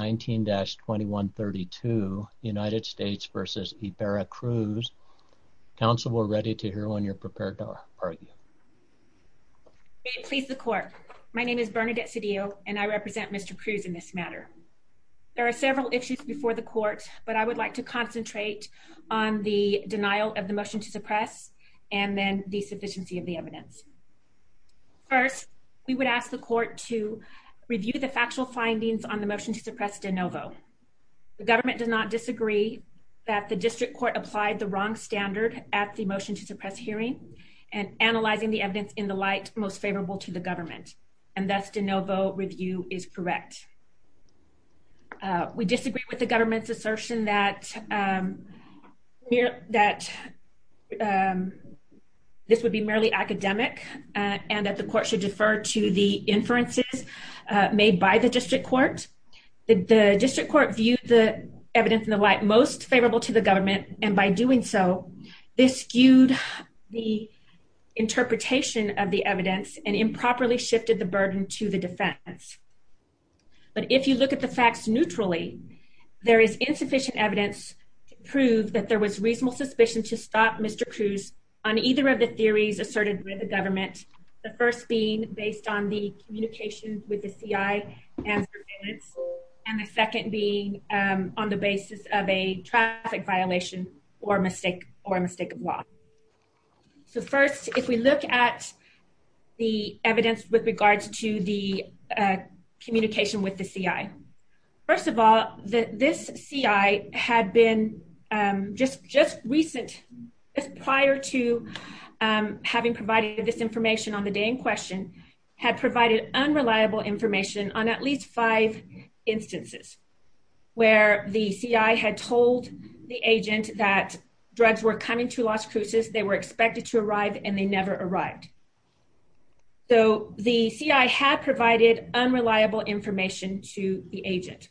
19-2132 United States v. Ybarra Cruz Council we're ready to hear when you're prepared to argue. May it please the court my name is Bernadette Cedillo and I represent Mr. Cruz in this matter. There are several issues before the court but I would like to concentrate on the denial of the motion to suppress and then the sufficiency of the evidence. First we would ask the court to review the motion as de novo. The government does not disagree that the district court applied the wrong standard at the motion to suppress hearing and analyzing the evidence in the light most favorable to the government and thus de novo review is correct. We disagree with the government's assertion that this would be merely academic and that the court should defer to the inferences made by the district court. The district court viewed the evidence in the light most favorable to the government and by doing so this skewed the interpretation of the evidence and improperly shifted the burden to the defense. But if you look at the facts neutrally there is insufficient evidence to prove that there was reasonable suspicion to stop Mr. Cruz on either of the theories asserted by the government. The first being based on the communication with the CI and the second being on the basis of a traffic violation or a mistake of law. So first if we look at the evidence with regards to the communication with the CI. First of all this CI had been just recent prior to having provided this information on the day in question had provided unreliable information on at least five instances where the CI had told the agent that drugs were coming to Las Cruces. They were expected to arrive and they never arrived. So the CI had provided unreliable information to the agent.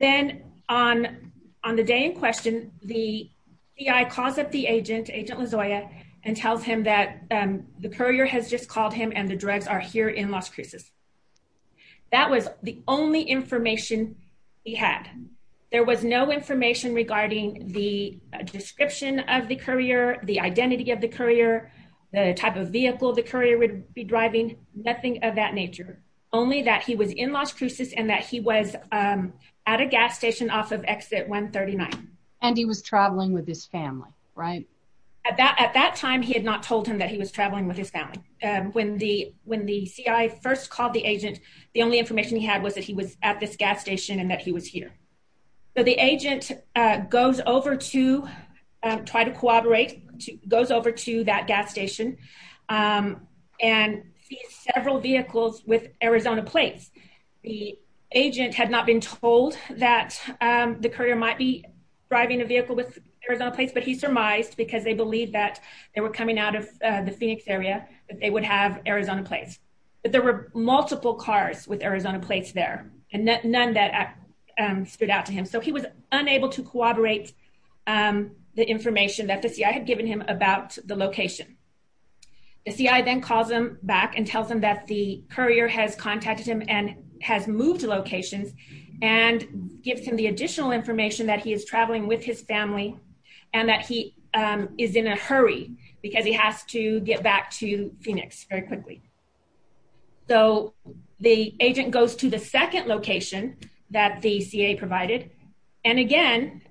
Then on the day in question the CI calls up the agent, Agent tells him that the courier has just called him and the drugs are here in Las Cruces. That was the only information he had. There was no information regarding the description of the courier, the identity of the courier, the type of vehicle the courier would be driving, nothing of that nature. Only that he was in Las Cruces and that he was at a gas station off of exit 139. And he was traveling with his family, right? At that time he had not told him that he was traveling with his family. When the CI first called the agent the only information he had was that he was at this gas station and that he was here. So the agent goes over to try to cooperate, goes over to that gas station and sees several vehicles with Arizona plates. The agent had not been told that the courier might be driving a vehicle with Arizona plates, but he surmised because they believed that they were coming out of the Phoenix area that they would have Arizona plates. But there were multiple cars with Arizona plates there and none that stood out to him. So he was unable to cooperate the information that the CI had given him about the location. The CI then calls him back and the courier has contacted him and has moved locations and gives him the additional information that he is traveling with his family and that he is in a hurry because he has to get back to Phoenix very quickly. So the agent goes to the second location that the CA provided and again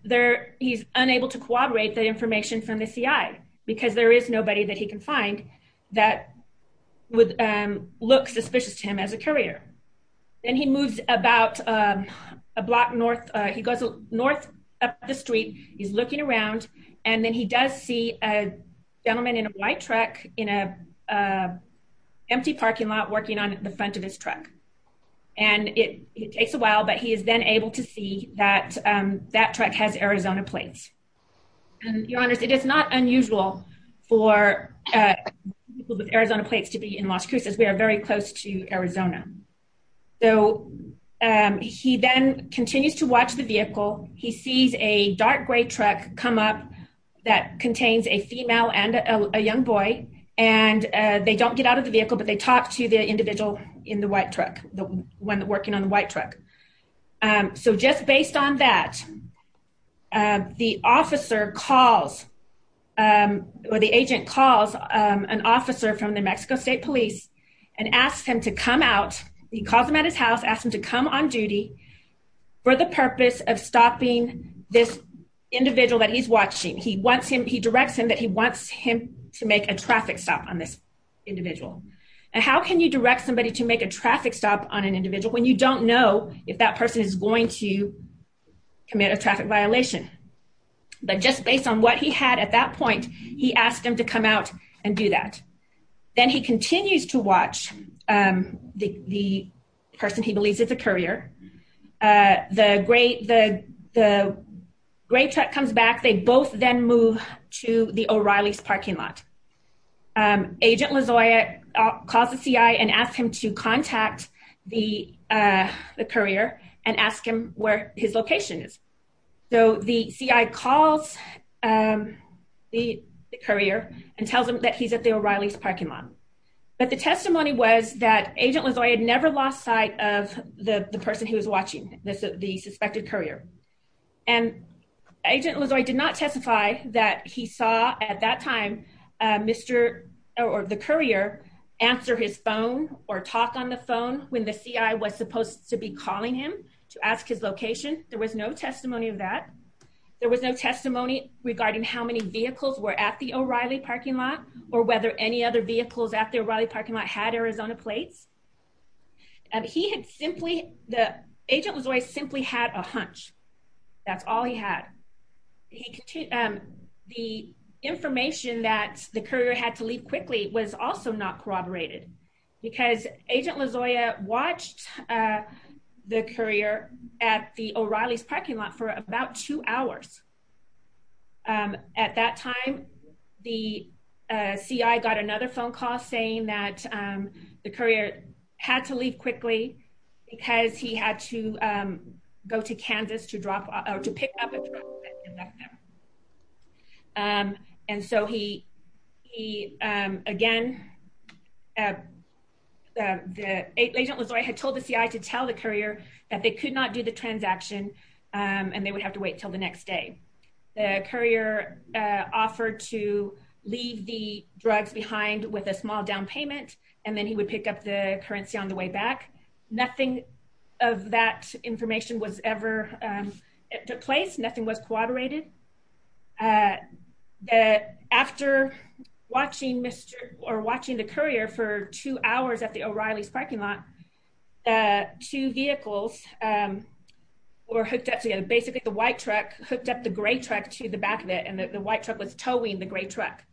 he's unable to cooperate the information from the CI because there is nobody that he as a courier. Then he moves about a block north. He goes north up the street. He's looking around and then he does see a gentleman in a white truck in an empty parking lot working on the front of his truck. And it takes a while, but he is then able to see that that truck has Arizona plates. And your honors, it is not unusual for people with Arizona plates to have Arizona. So he then continues to watch the vehicle. He sees a dark gray truck come up that contains a female and a young boy. And they don't get out of the vehicle, but they talk to the individual in the white truck, the one that working on the white truck. So just based on that, the officer calls or the agent calls an officer from New Mexico State Police and asks him to come out. He calls him at his house, asks him to come on duty for the purpose of stopping this individual that he's watching. He wants him, he directs him that he wants him to make a traffic stop on this individual. And how can you direct somebody to make a traffic stop on an individual when you don't know if that person is going to commit a traffic violation? But just based on what he had at that point, he asked him to come out and do that. Then he continues to watch the person he believes is a courier. The gray truck comes back. They both then move to the O'Reilly's parking lot. Agent Lozoya calls the CI and asks him to contact the courier and ask him where his location is. So the CI calls the courier and tells him that he's at the O'Reilly's parking lot. But the testimony was that Agent Lozoya had never lost sight of the person who was watching the suspected courier. And Agent Lozoya did not testify that he saw at that time, Mr. or the courier answer his phone or talk on the phone when the CI was supposed to be calling him to ask his location. There was no testimony of that. There was no testimony regarding how many vehicles were at the O'Reilly's parking lot or whether any other vehicles at the O'Reilly's parking lot had Arizona plates. And he had simply, Agent Lozoya simply had a hunch. That's all he had. The information that the courier had to leave quickly was also not corroborated because Agent Lozoya watched the courier at the O'Reilly's parking lot for about two hours. At that time, the CI got another phone call saying that the courier had to leave quickly because he had to go to Kansas to drop or to pick up. And so he, again, Agent Lozoya had told the CI to tell the courier that they could not do the transaction and they would have to wait till the next day. The courier offered to leave the drugs behind with a small down payment and then he would pick up the currency on the way back. Nothing of that information was ever, took place. Nothing was corroborated. After watching the courier for two hours at the O'Reilly's parking lot, two vehicles were hooked up together. Basically, the white truck hooked up the gray truck to the back of it and the white truck was towing the gray truck.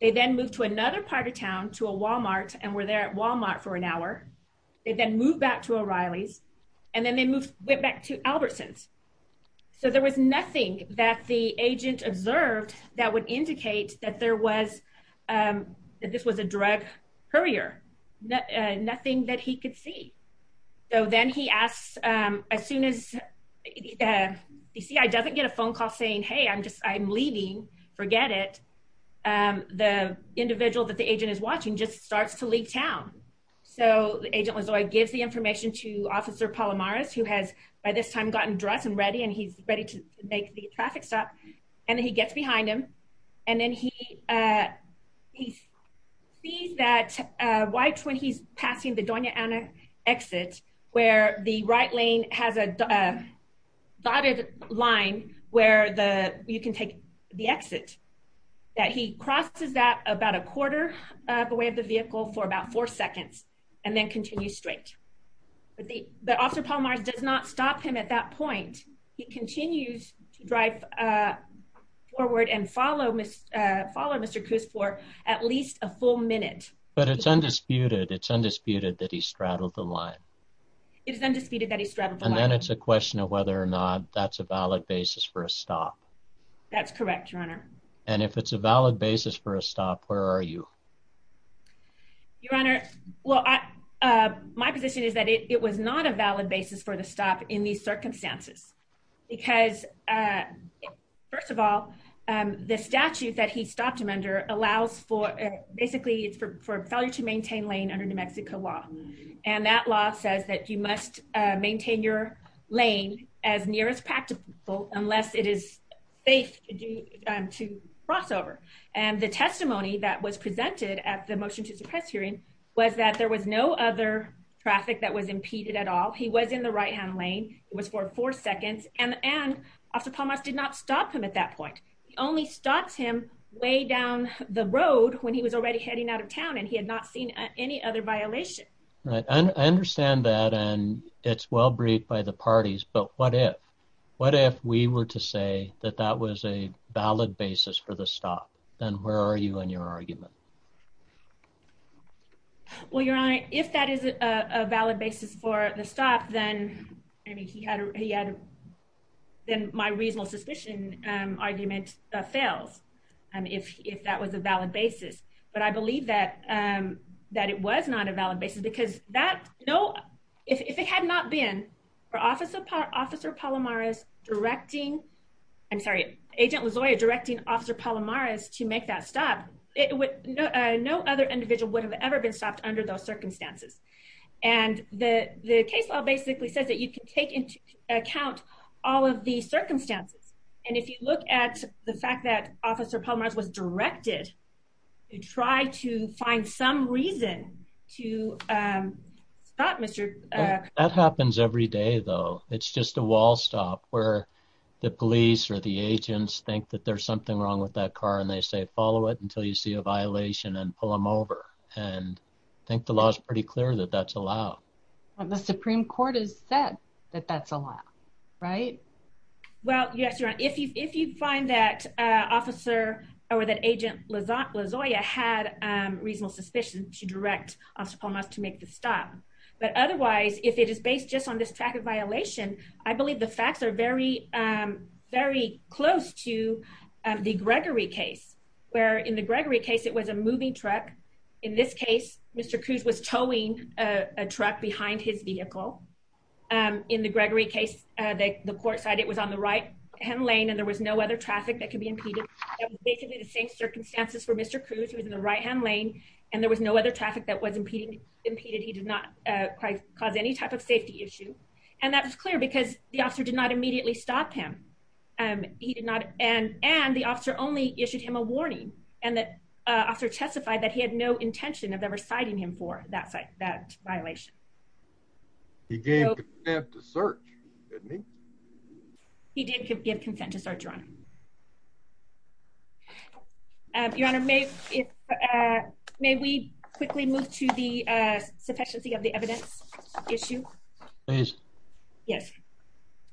They then moved to another part of town to a Walmart and were there at Walmart for an hour. They then moved back to O'Reilly's and then they moved back to Albertson's. So there was nothing that the agent observed that would indicate that there was, that this was a drug courier. Nothing that he could see. So then he asks, as soon as the CI doesn't get a phone call saying, hey, I'm just, I'm leaving. Forget it. The individual that the agent is watching just starts to leave town. So Agent Lozoya gives the information to Officer Palomares, who has by this time gotten dressed and ready and he's ready to make the traffic stop. And then he gets behind him and then he sees that white when he's passing the Doña Ana exit where the right lane has a dotted line where the, you can take the exit, that he crosses that about a quarter of the way of the vehicle for about four seconds and then continue straight. But the Officer Palomares does not stop him at that point. He continues to drive forward and follow Mr. Coos for at least a full minute. But it's undisputed, it's undisputed that he straddled the line. It is undisputed that he straddled the line. And then it's a question of whether or not that's a valid basis for a stop. That's correct, Your Honor. And if it's a valid basis for a stop, where are you? Your Honor, well, my position is that it was not a valid basis for the stop in these circumstances because first of all, the statute that he stopped him under allows for, basically it's for failure to maintain lane under New Mexico law. And that law says that you must maintain your lane as near as practical unless it is safe to cross over. And the testimony that was presented at the motion to suppress hearing was that there was no other traffic that was impeded at all. He was in the right hand lane. It was for four seconds and Officer Palmas did not stop him at that point. He only stopped him way down the road when he was already heading out of town and he had not seen any other violation. Right. I understand that. And it's well briefed by the parties. But what if, what if we were to say that that was a valid basis for the stop? Then where are you in your argument? Well, Your Honor, if that is a valid basis for the stop, then, I mean, he had, then my reasonable suspicion argument fails if that was a valid basis. But I believe that that it was not a valid basis because that, no, if it had not been for Officer Palmas directing, I'm sorry, Agent Lozoya directing Officer Palmas to make that stop, it would have been a valid basis. No other individual would have ever been stopped under those circumstances. And the case law basically says that you can take into account all of the circumstances. And if you look at the fact that Officer Palmas was directed to try to find some reason to stop Mr. That happens every day, though. It's just a wall stop where the police or the agents think that there's something wrong with that car and they say, follow it until you see a violation and pull them over. And I think the law is pretty clear that that's allowed. The Supreme Court has said that that's allowed, right? Well, yes, Your Honor. If you find that Officer or that Agent Lozoya had reasonable suspicion to direct Officer Palmas to make the stop. But otherwise, if it is based just on this fact of violation, I believe the facts are very, very close to the Gregory case, where in the Gregory case, it was a moving truck. In this case, Mr. Cruz was towing a truck behind his vehicle. In the Gregory case, the court side, it was on the right hand lane and there was no other traffic that could be impeded. Basically, the same circumstances for Mr. Cruz was in the right hand lane and there was no other traffic that was impeded. He did not quite cause any type of safety issue. And that was clear because the officer did not immediately stop him. And the officer only issued him a warning and the officer testified that he had no intention of ever citing him for that violation. He gave consent to search, didn't he? He did give consent to search, Your Honor. Your Honor, may we quickly move to the sufficiency of the evidence issue? Please. Yes,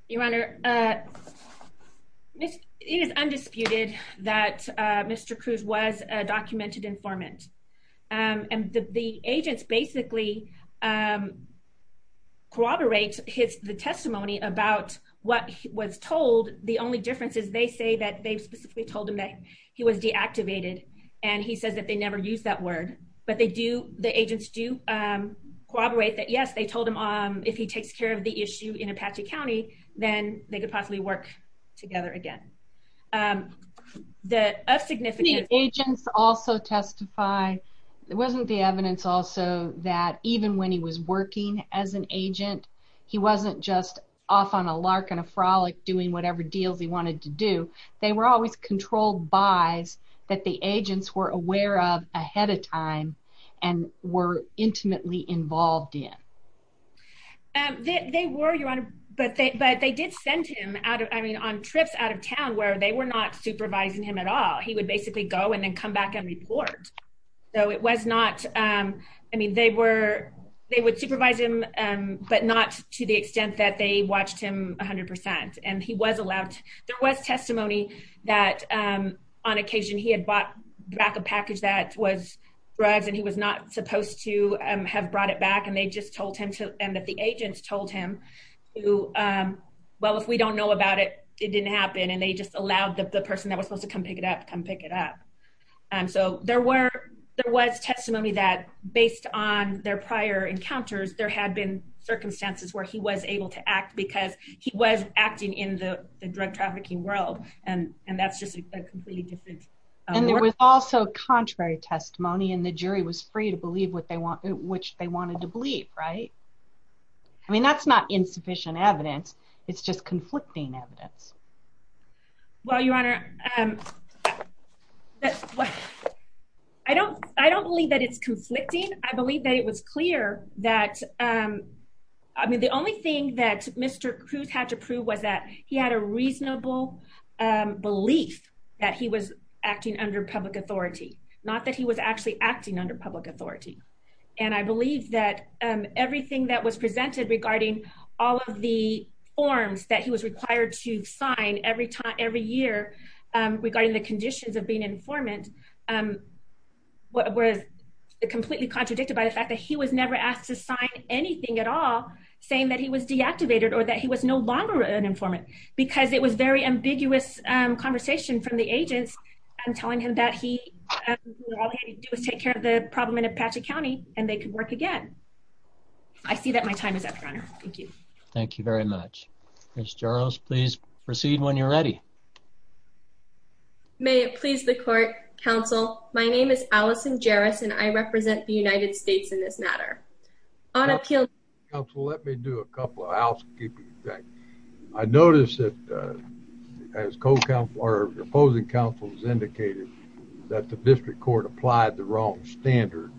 Your Honor. It is undisputed that Mr. Cruz was a documented informant. And the agents basically corroborate the testimony about what was told. The only difference is they say that they specifically told him that he was deactivated. And he says that they never used that word, but they do, the agents do corroborate that, yes, they told him if he takes care of the issue in Apache County, then they could possibly work together again. The agents also testify. It wasn't the evidence also that even when he was working as an agent, he wasn't just off on a lark and a frolic doing whatever deals he wanted to do. They were always controlled by's that the agents were aware of ahead of time and were intimately involved in. They were, Your Honor, but they did send him out of, I mean, on trips out of town where they were not supervising him at all. He would basically go and then come back and report. So it was not, I mean, they were, they would supervise him, but not to the extent that they watched him 100%. And he was allowed, there was testimony that on occasion he had bought back a package that was drugs and he was not supposed to have brought it back and they just told him to, and that the agents told him to, well, if we don't know about it, it didn't happen. And they just allowed the person that was supposed to come pick it up, come pick it up. And so there were, there was testimony that based on their prior encounters, there had been circumstances where he was able to act because he was acting in the drug trafficking world. And, and that's just a completely different. And there was also contrary testimony and the jury was free to believe what they want, which they wanted to believe. Right. I mean, that's not insufficient evidence. It's just conflicting evidence. Well, Your Honor, I don't, I don't believe that it's conflicting. I believe that it was clear that, um, I mean, the only thing that Mr. Cruz had to prove was that he had a reasonable belief that he was acting under public authority, not that he was actually acting under public authority. And I believe that everything that was presented regarding all of the forms that he was required to sign every time, every year, regarding the conditions of being an informant, was completely contradicted by the fact that he was never asked to sign anything at all, saying that he was deactivated or that he was no longer an informant, because it was very ambiguous conversation from the agents telling him that he was taking care of the problem in Apache County and they could work again. I see that my time is up, Your Honor. Thank you. Thank you very much. Ms. Jarosz, please proceed when you're ready. May it please the Court, Counsel. My name is Allison Jarosz, and I represent the United States in this matter. Counsel, let me do a couple of housekeeping things. I noticed that, uh, as Co-Counselor, or Opposing Counsel has indicated, that the District Court applied the wrong standard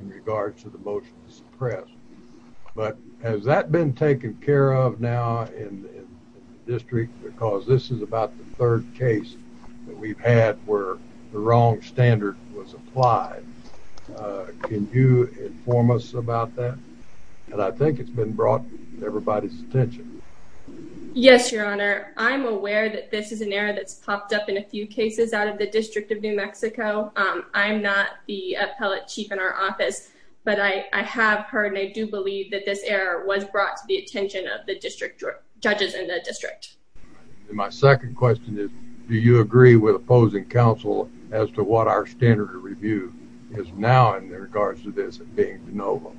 in regards to the motion to suppress. But has that been taken care of now in the District? Because this is about the third case that we've had where the wrong standard was applied. Can you inform us about that? And I think it's been brought to everybody's attention. Yes, Your Honor. I'm aware that this is an error that's popped up in a few cases out of the District of New Mexico. I'm not the Appellate Chief in our office, but I have heard and I do believe that this error was brought to the attention of the District Judges in the District. And my second question is, do you agree with Opposing Counsel as to what our standard of review is now in regards to this being de novo?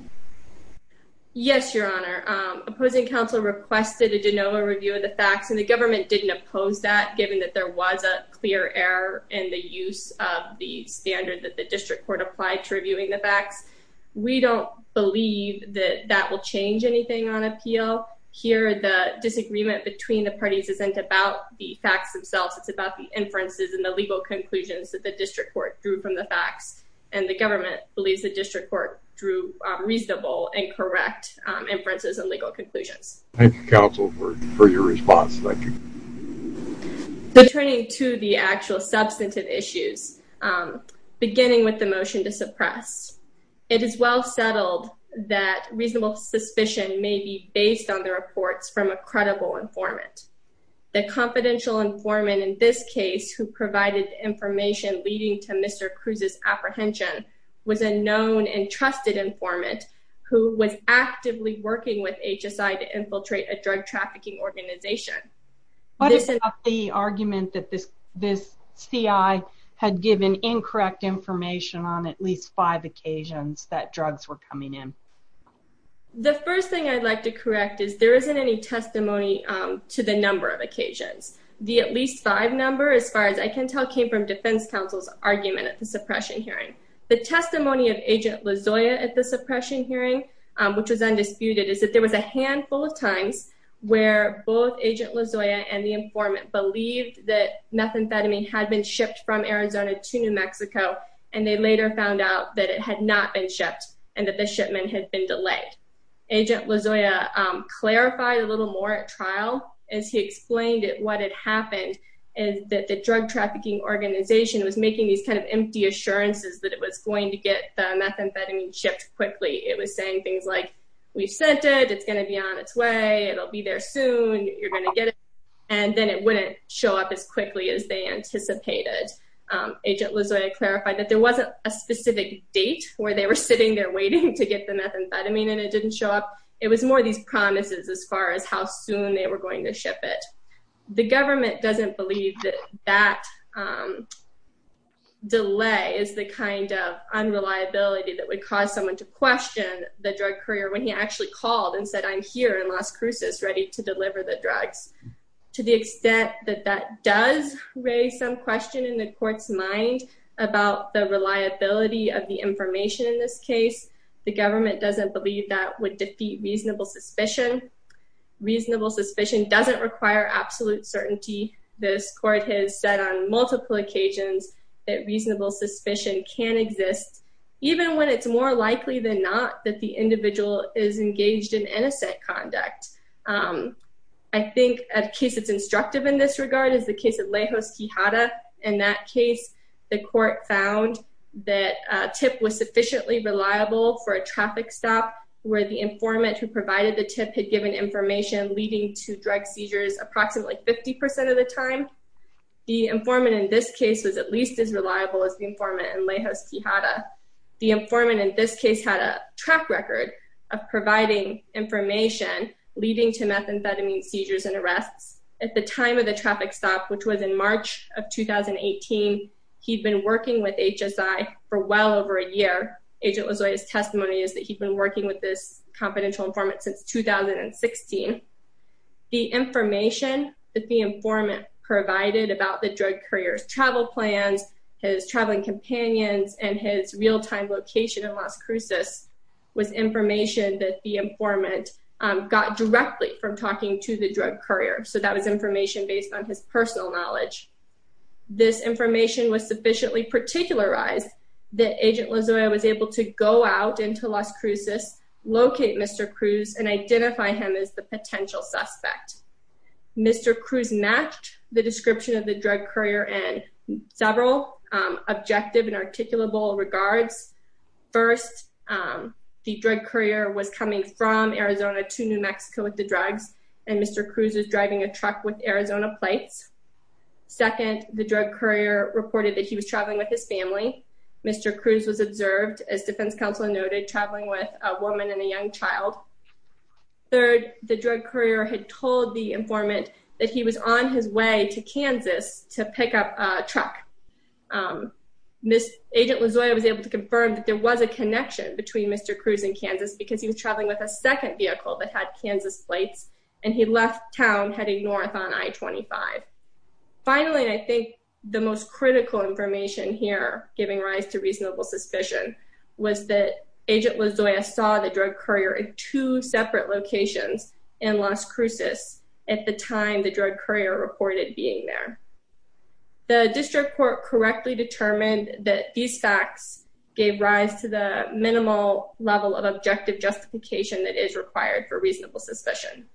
Yes, Your Honor. Opposing Counsel requested a de novo review of the facts, and the government didn't oppose that, given that there was a clear error in the use of the standard that the District Court applied to reviewing the facts. We don't believe that that will change anything on appeal. Here, the disagreement between the parties isn't about the facts themselves. It's about the inferences and the legal conclusions that the District Court drew from the facts. And the government believes the District Court drew reasonable and correct inferences and legal conclusions. Thank you, Counsel, for your response. Returning to the actual substantive issues, beginning with the motion to suppress, it is well settled that reasonable suspicion may be based on the reports from a credible informant. The confidential informant in this case, who provided information leading to Mr. Cruz's apprehension, was a known and trusted informant who was actively working with HSI to infiltrate a drug trafficking organization. What about the argument that this CI had given incorrect information on at least five occasions that drugs were coming in? The first thing I'd like to correct is there isn't any testimony to the number of occasions. The at least five number, as far as I can tell, came from Defense Counsel's argument at the suppression hearing. The testimony of Agent Lozoya at the suppression hearing, which was undisputed, is that there was a handful of times where both Agent Lozoya and the informant believed that methamphetamine had been shipped from Arizona to New Mexico and they later found out that it had not been shipped and that the shipment had been delayed. Agent Lozoya clarified a little more at trial as he explained what had happened is that the drug trafficking organization was making these kind of empty assurances that it was going to get the methamphetamine shipped quickly. It was saying things like we've sent it, it's going to be on its way, it'll be there soon, you're going to get it, and then it wouldn't show up as quickly as they anticipated. Agent Lozoya clarified that there wasn't a specific date where they were sitting there waiting to get the methamphetamine and it didn't show up. It was more these promises as far as how soon they were going to ship it. The government doesn't believe that that delay is the kind of unreliability that would cause someone to question the drug courier when he actually called and said, I'm here in Las Cruces ready to deliver the drugs. To the extent that that does raise some question in the court's mind about the reliability of the information in this case, the government doesn't believe that would defeat reasonable suspicion. Reasonable suspicion doesn't require absolute certainty. This court has said on multiple occasions that reasonable suspicion can exist, even when it's more likely than not that the individual is engaged in innocent conduct. I think a case that's instructive in this regard is the case of Lejos Quijada. In that case, the court found that TIP was sufficiently reliable for a traffic stop where the informant who provided the TIP had given information leading to drug seizures approximately 50% of the time. The informant in this case was at least as reliable as the informant in Lejos Quijada. The informant in this case had a track record of providing information leading to methamphetamine seizures and arrests. At the time of the traffic stop, which was in March of 2018, he'd been working with HSI for well over a year. Agent Lejos' testimony is that he'd been working with this confidential informant since 2016. The information that the informant provided about the drug courier's travel plans, his traveling companions, and his real time location in Las Cruces was information that the informant got directly from talking to the drug courier. So that was information based on his personal knowledge. This information was sufficiently particularized that Agent Lejos was able to go out into Las Cruces, locate Mr. Cruz, and identify him as the potential suspect. Mr. Cruz matched the description of the drug courier in several objective and articulable regards. First, the drug courier was coming from Arizona to New Mexico with the drugs and Mr. Cruz was driving a truck with Arizona plates. Second, the drug courier reported that he was traveling with his family. Mr. Cruz was observed, as Defense Counsel noted, traveling with a woman and a young child. Third, the drug courier had told the informant that he was on his way to Kansas to pick up a truck. Agent Lejos was able to confirm that there was a connection between Mr. Cruz and Kansas because he was traveling with a second vehicle that had Kansas plates and he left town heading north on I-25. Finally, I think the most critical information here giving rise to reasonable suspicion was that Agent Lejos saw the drug courier in two separate locations in Las Cruces at the time the drug courier reported being there. The district court correctly determined that these facts gave rise to the minimal level of objective justification that is required for reasonable suspicion.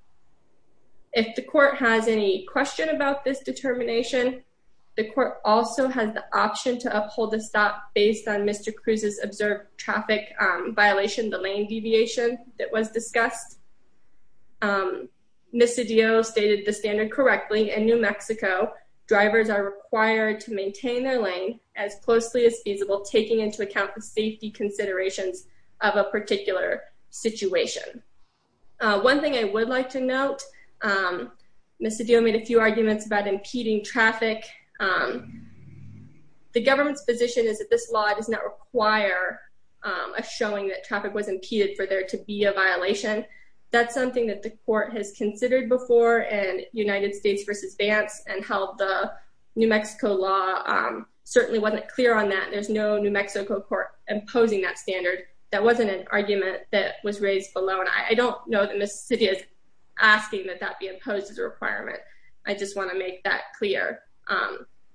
If the court has any question about this determination, the court also has the option to uphold the stop based on Mr. Cruz's observed traffic violation, the lane deviation that was discussed. Ms. Cedillo stated the standard correctly. In New Mexico, drivers are required to maintain their lane as closely as feasible, taking into account the safety considerations of a particular situation. One thing I would like to note, Ms. Cedillo made a few arguments about impeding traffic. The government's position is that this law does not require a showing that traffic was impeded for there to be a violation. That's something that the court has considered before in United States v. Vance and how the New Mexico law certainly wasn't clear on that. There's no New Mexico court imposing that standard. That wasn't an argument that was raised below. And I don't know that Ms. Cedillo is asking that that be imposed as a requirement. I just want to make that clear.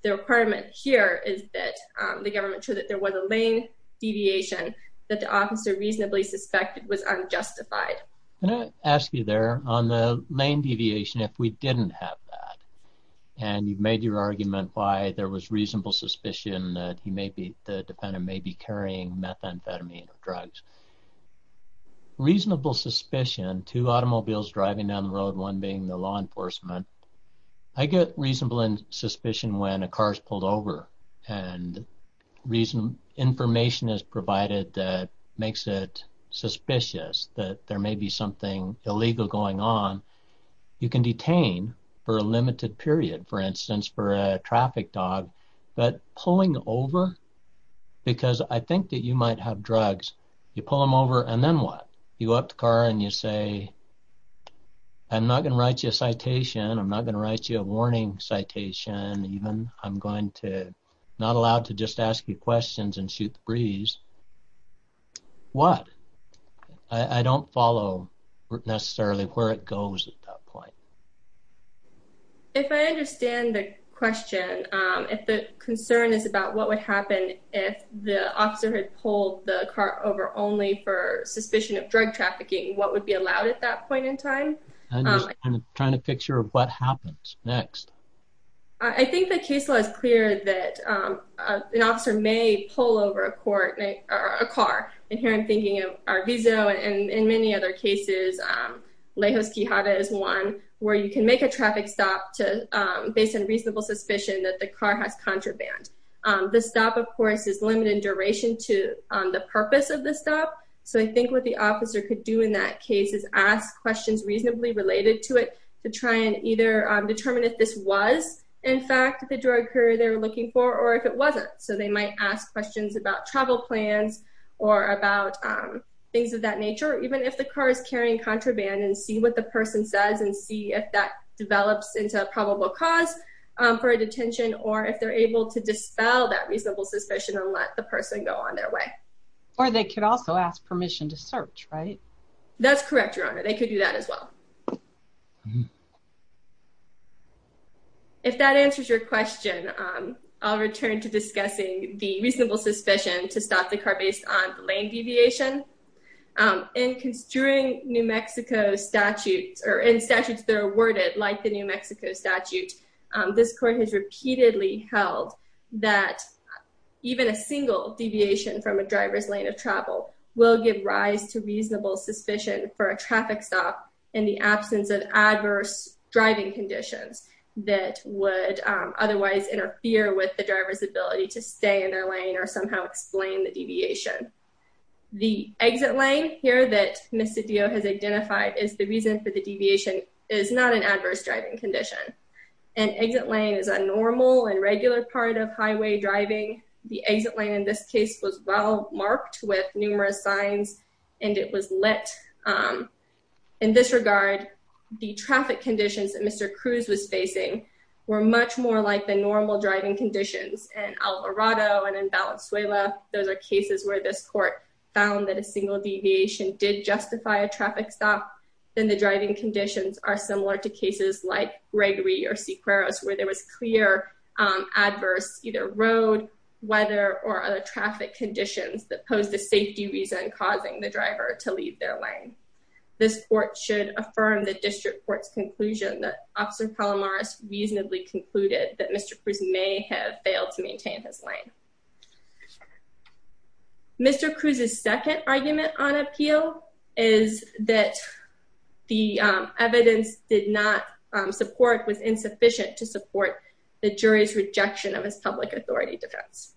The requirement here is that the government showed that there was a lane deviation that the officer reasonably suspected was unjustified. Can I ask you there on the lane deviation, if we didn't have that, and you've made your argument why there was reasonable suspicion that he may be, the defendant may be carrying methamphetamine or drugs. Reasonable suspicion, two automobiles driving down the road, one being the law enforcement, I get reasonable suspicion when a car is pulled over and Information is provided that makes it suspicious that there may be something illegal going on. You can detain for a limited period, for instance, for a traffic dog, but pulling over, because I think that you might have drugs, you pull them over and then what? You go up to the car and you say, I'm not going to write you a citation. I'm not going to write you a warning citation. Even I'm going to not allowed to just ask you questions and shoot the breeze. What I don't follow necessarily where it goes at that point. If I understand the question, if the concern is about what would happen if the officer had pulled the car over only for suspicion of drug trafficking, what would be allowed at that point in time. Trying to picture of what happens next. I think the case law is clear that an officer may pull over a court or a car. And here I'm thinking of our visa and in many other cases. Lejos Quijada is one where you can make a traffic stop to based on reasonable suspicion that the car has contraband. The stop, of course, is limited duration to the purpose of the stop. So I think what the officer could do in that case is ask questions reasonably related to it. To try and either determine if this was, in fact, the drug career they're looking for, or if it wasn't. So they might ask questions about travel plans or about things of that nature, even if the car is carrying contraband and see what the person says and see if that develops into a probable cause for a detention or if they're able to dispel that reasonable suspicion and let the person go on their way. Or they could also ask permission to search, right? That's correct, Your Honor. They could do that as well. If that answers your question, I'll return to discussing the reasonable suspicion to stop the car based on lane deviation. In construing New Mexico statutes, or in statutes that are worded like the New Mexico statute, this court has repeatedly held that even a single deviation from a driver's lane of travel will give rise to reasonable suspicion for a traffic stop in the absence of adverse driving conditions that would otherwise interfere with the driver's ability to stay in their lane or somehow explain the deviation. The exit lane here that Ms. Cedillo has identified is the reason for the deviation is not an adverse driving condition. An exit lane is a normal and regular part of highway driving. The exit lane in this case was well marked with numerous signs and it was lit. In this regard, the traffic conditions that Mr. Cruz was facing were much more like the normal driving conditions in El Dorado and in Valenzuela. Those are cases where this court found that a single deviation did justify a traffic stop than the driving conditions are similar to cases like Gregory or Sequeros, where there was clear adverse either road, weather, or other traffic conditions that posed a safety reason causing the driver to leave their lane. This court should affirm the district court's conclusion that Officer Palomaris reasonably concluded that Mr. Cruz may have failed to maintain his lane. Mr. Cruz's second argument on appeal is that the evidence did not support was insufficient to support the jury's rejection of his public authority defense.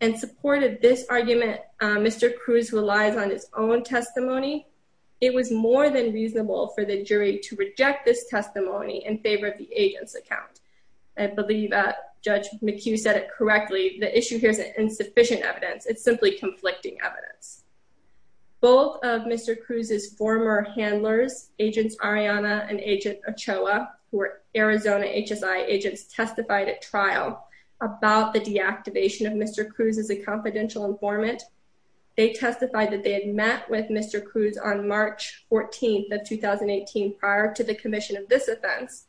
In support of this argument, Mr. Cruz relies on his own testimony. It was more than reasonable for the jury to reject this testimony in favor of the agent's account. I believe Judge McHugh said it correctly, the issue here is insufficient evidence. It's simply conflicting evidence. Both of Mr. Cruz's former handlers, Agents Ariana and Agent Ochoa, who were Arizona HSI agents, testified at trial about the deactivation of Mr. Cruz as a confidential informant. They testified that they had met with Mr. Cruz on March 14 of 2018 prior to the commission of this offense.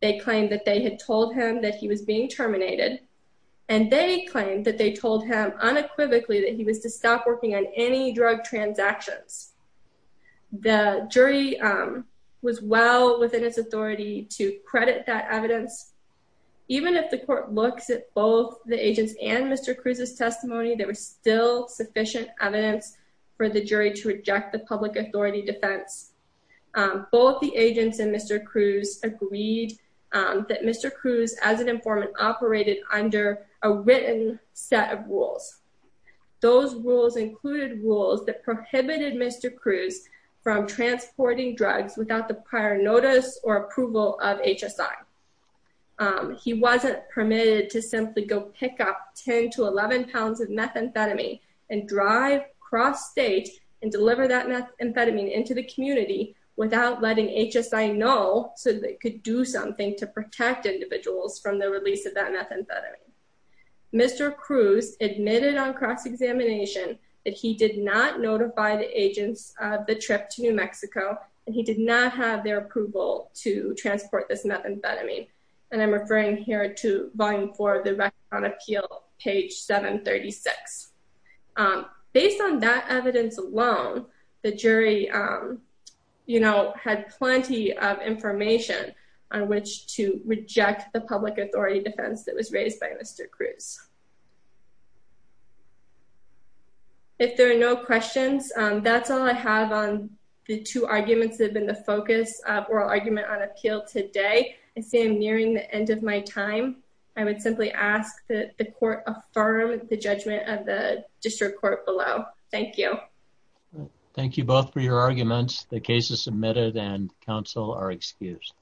They claimed that they had told him that he was being terminated. And they claimed that they told him unequivocally that he was to stop working on any drug transactions. The jury was well within its authority to credit that evidence. Even if the court looks at both the agents and Mr. Cruz's testimony, there was still sufficient evidence for the jury to reject the public authority defense. Both the agents and Mr. Cruz agreed that Mr. Cruz as an informant operated under a written set of rules. Those rules included rules that prohibited Mr. Cruz from transporting drugs without the prior notice or approval of HSI. He wasn't permitted to simply go pick up 10 to 11 pounds of methamphetamine and drive cross state and deliver that methamphetamine into the community without letting HSI know so they could do something to protect individuals from the release of that methamphetamine. Mr. Cruz admitted on cross examination that he did not notify the agents of the trip to New Mexico, and he did not have their approval to transport this methamphetamine and I'm referring here to volume for the record on appeal page 736 Based on that evidence alone, the jury You know, had plenty of information on which to reject the public authority defense that was raised by Mr. Cruz. If there are no questions, that's all I have on the two arguments that have been the focus of oral argument on appeal today. I see I'm nearing the end of my time. I would simply ask that the court affirm the judgment of the district court below. Thank you. Thank you both for your arguments. The case is submitted and counsel are excused.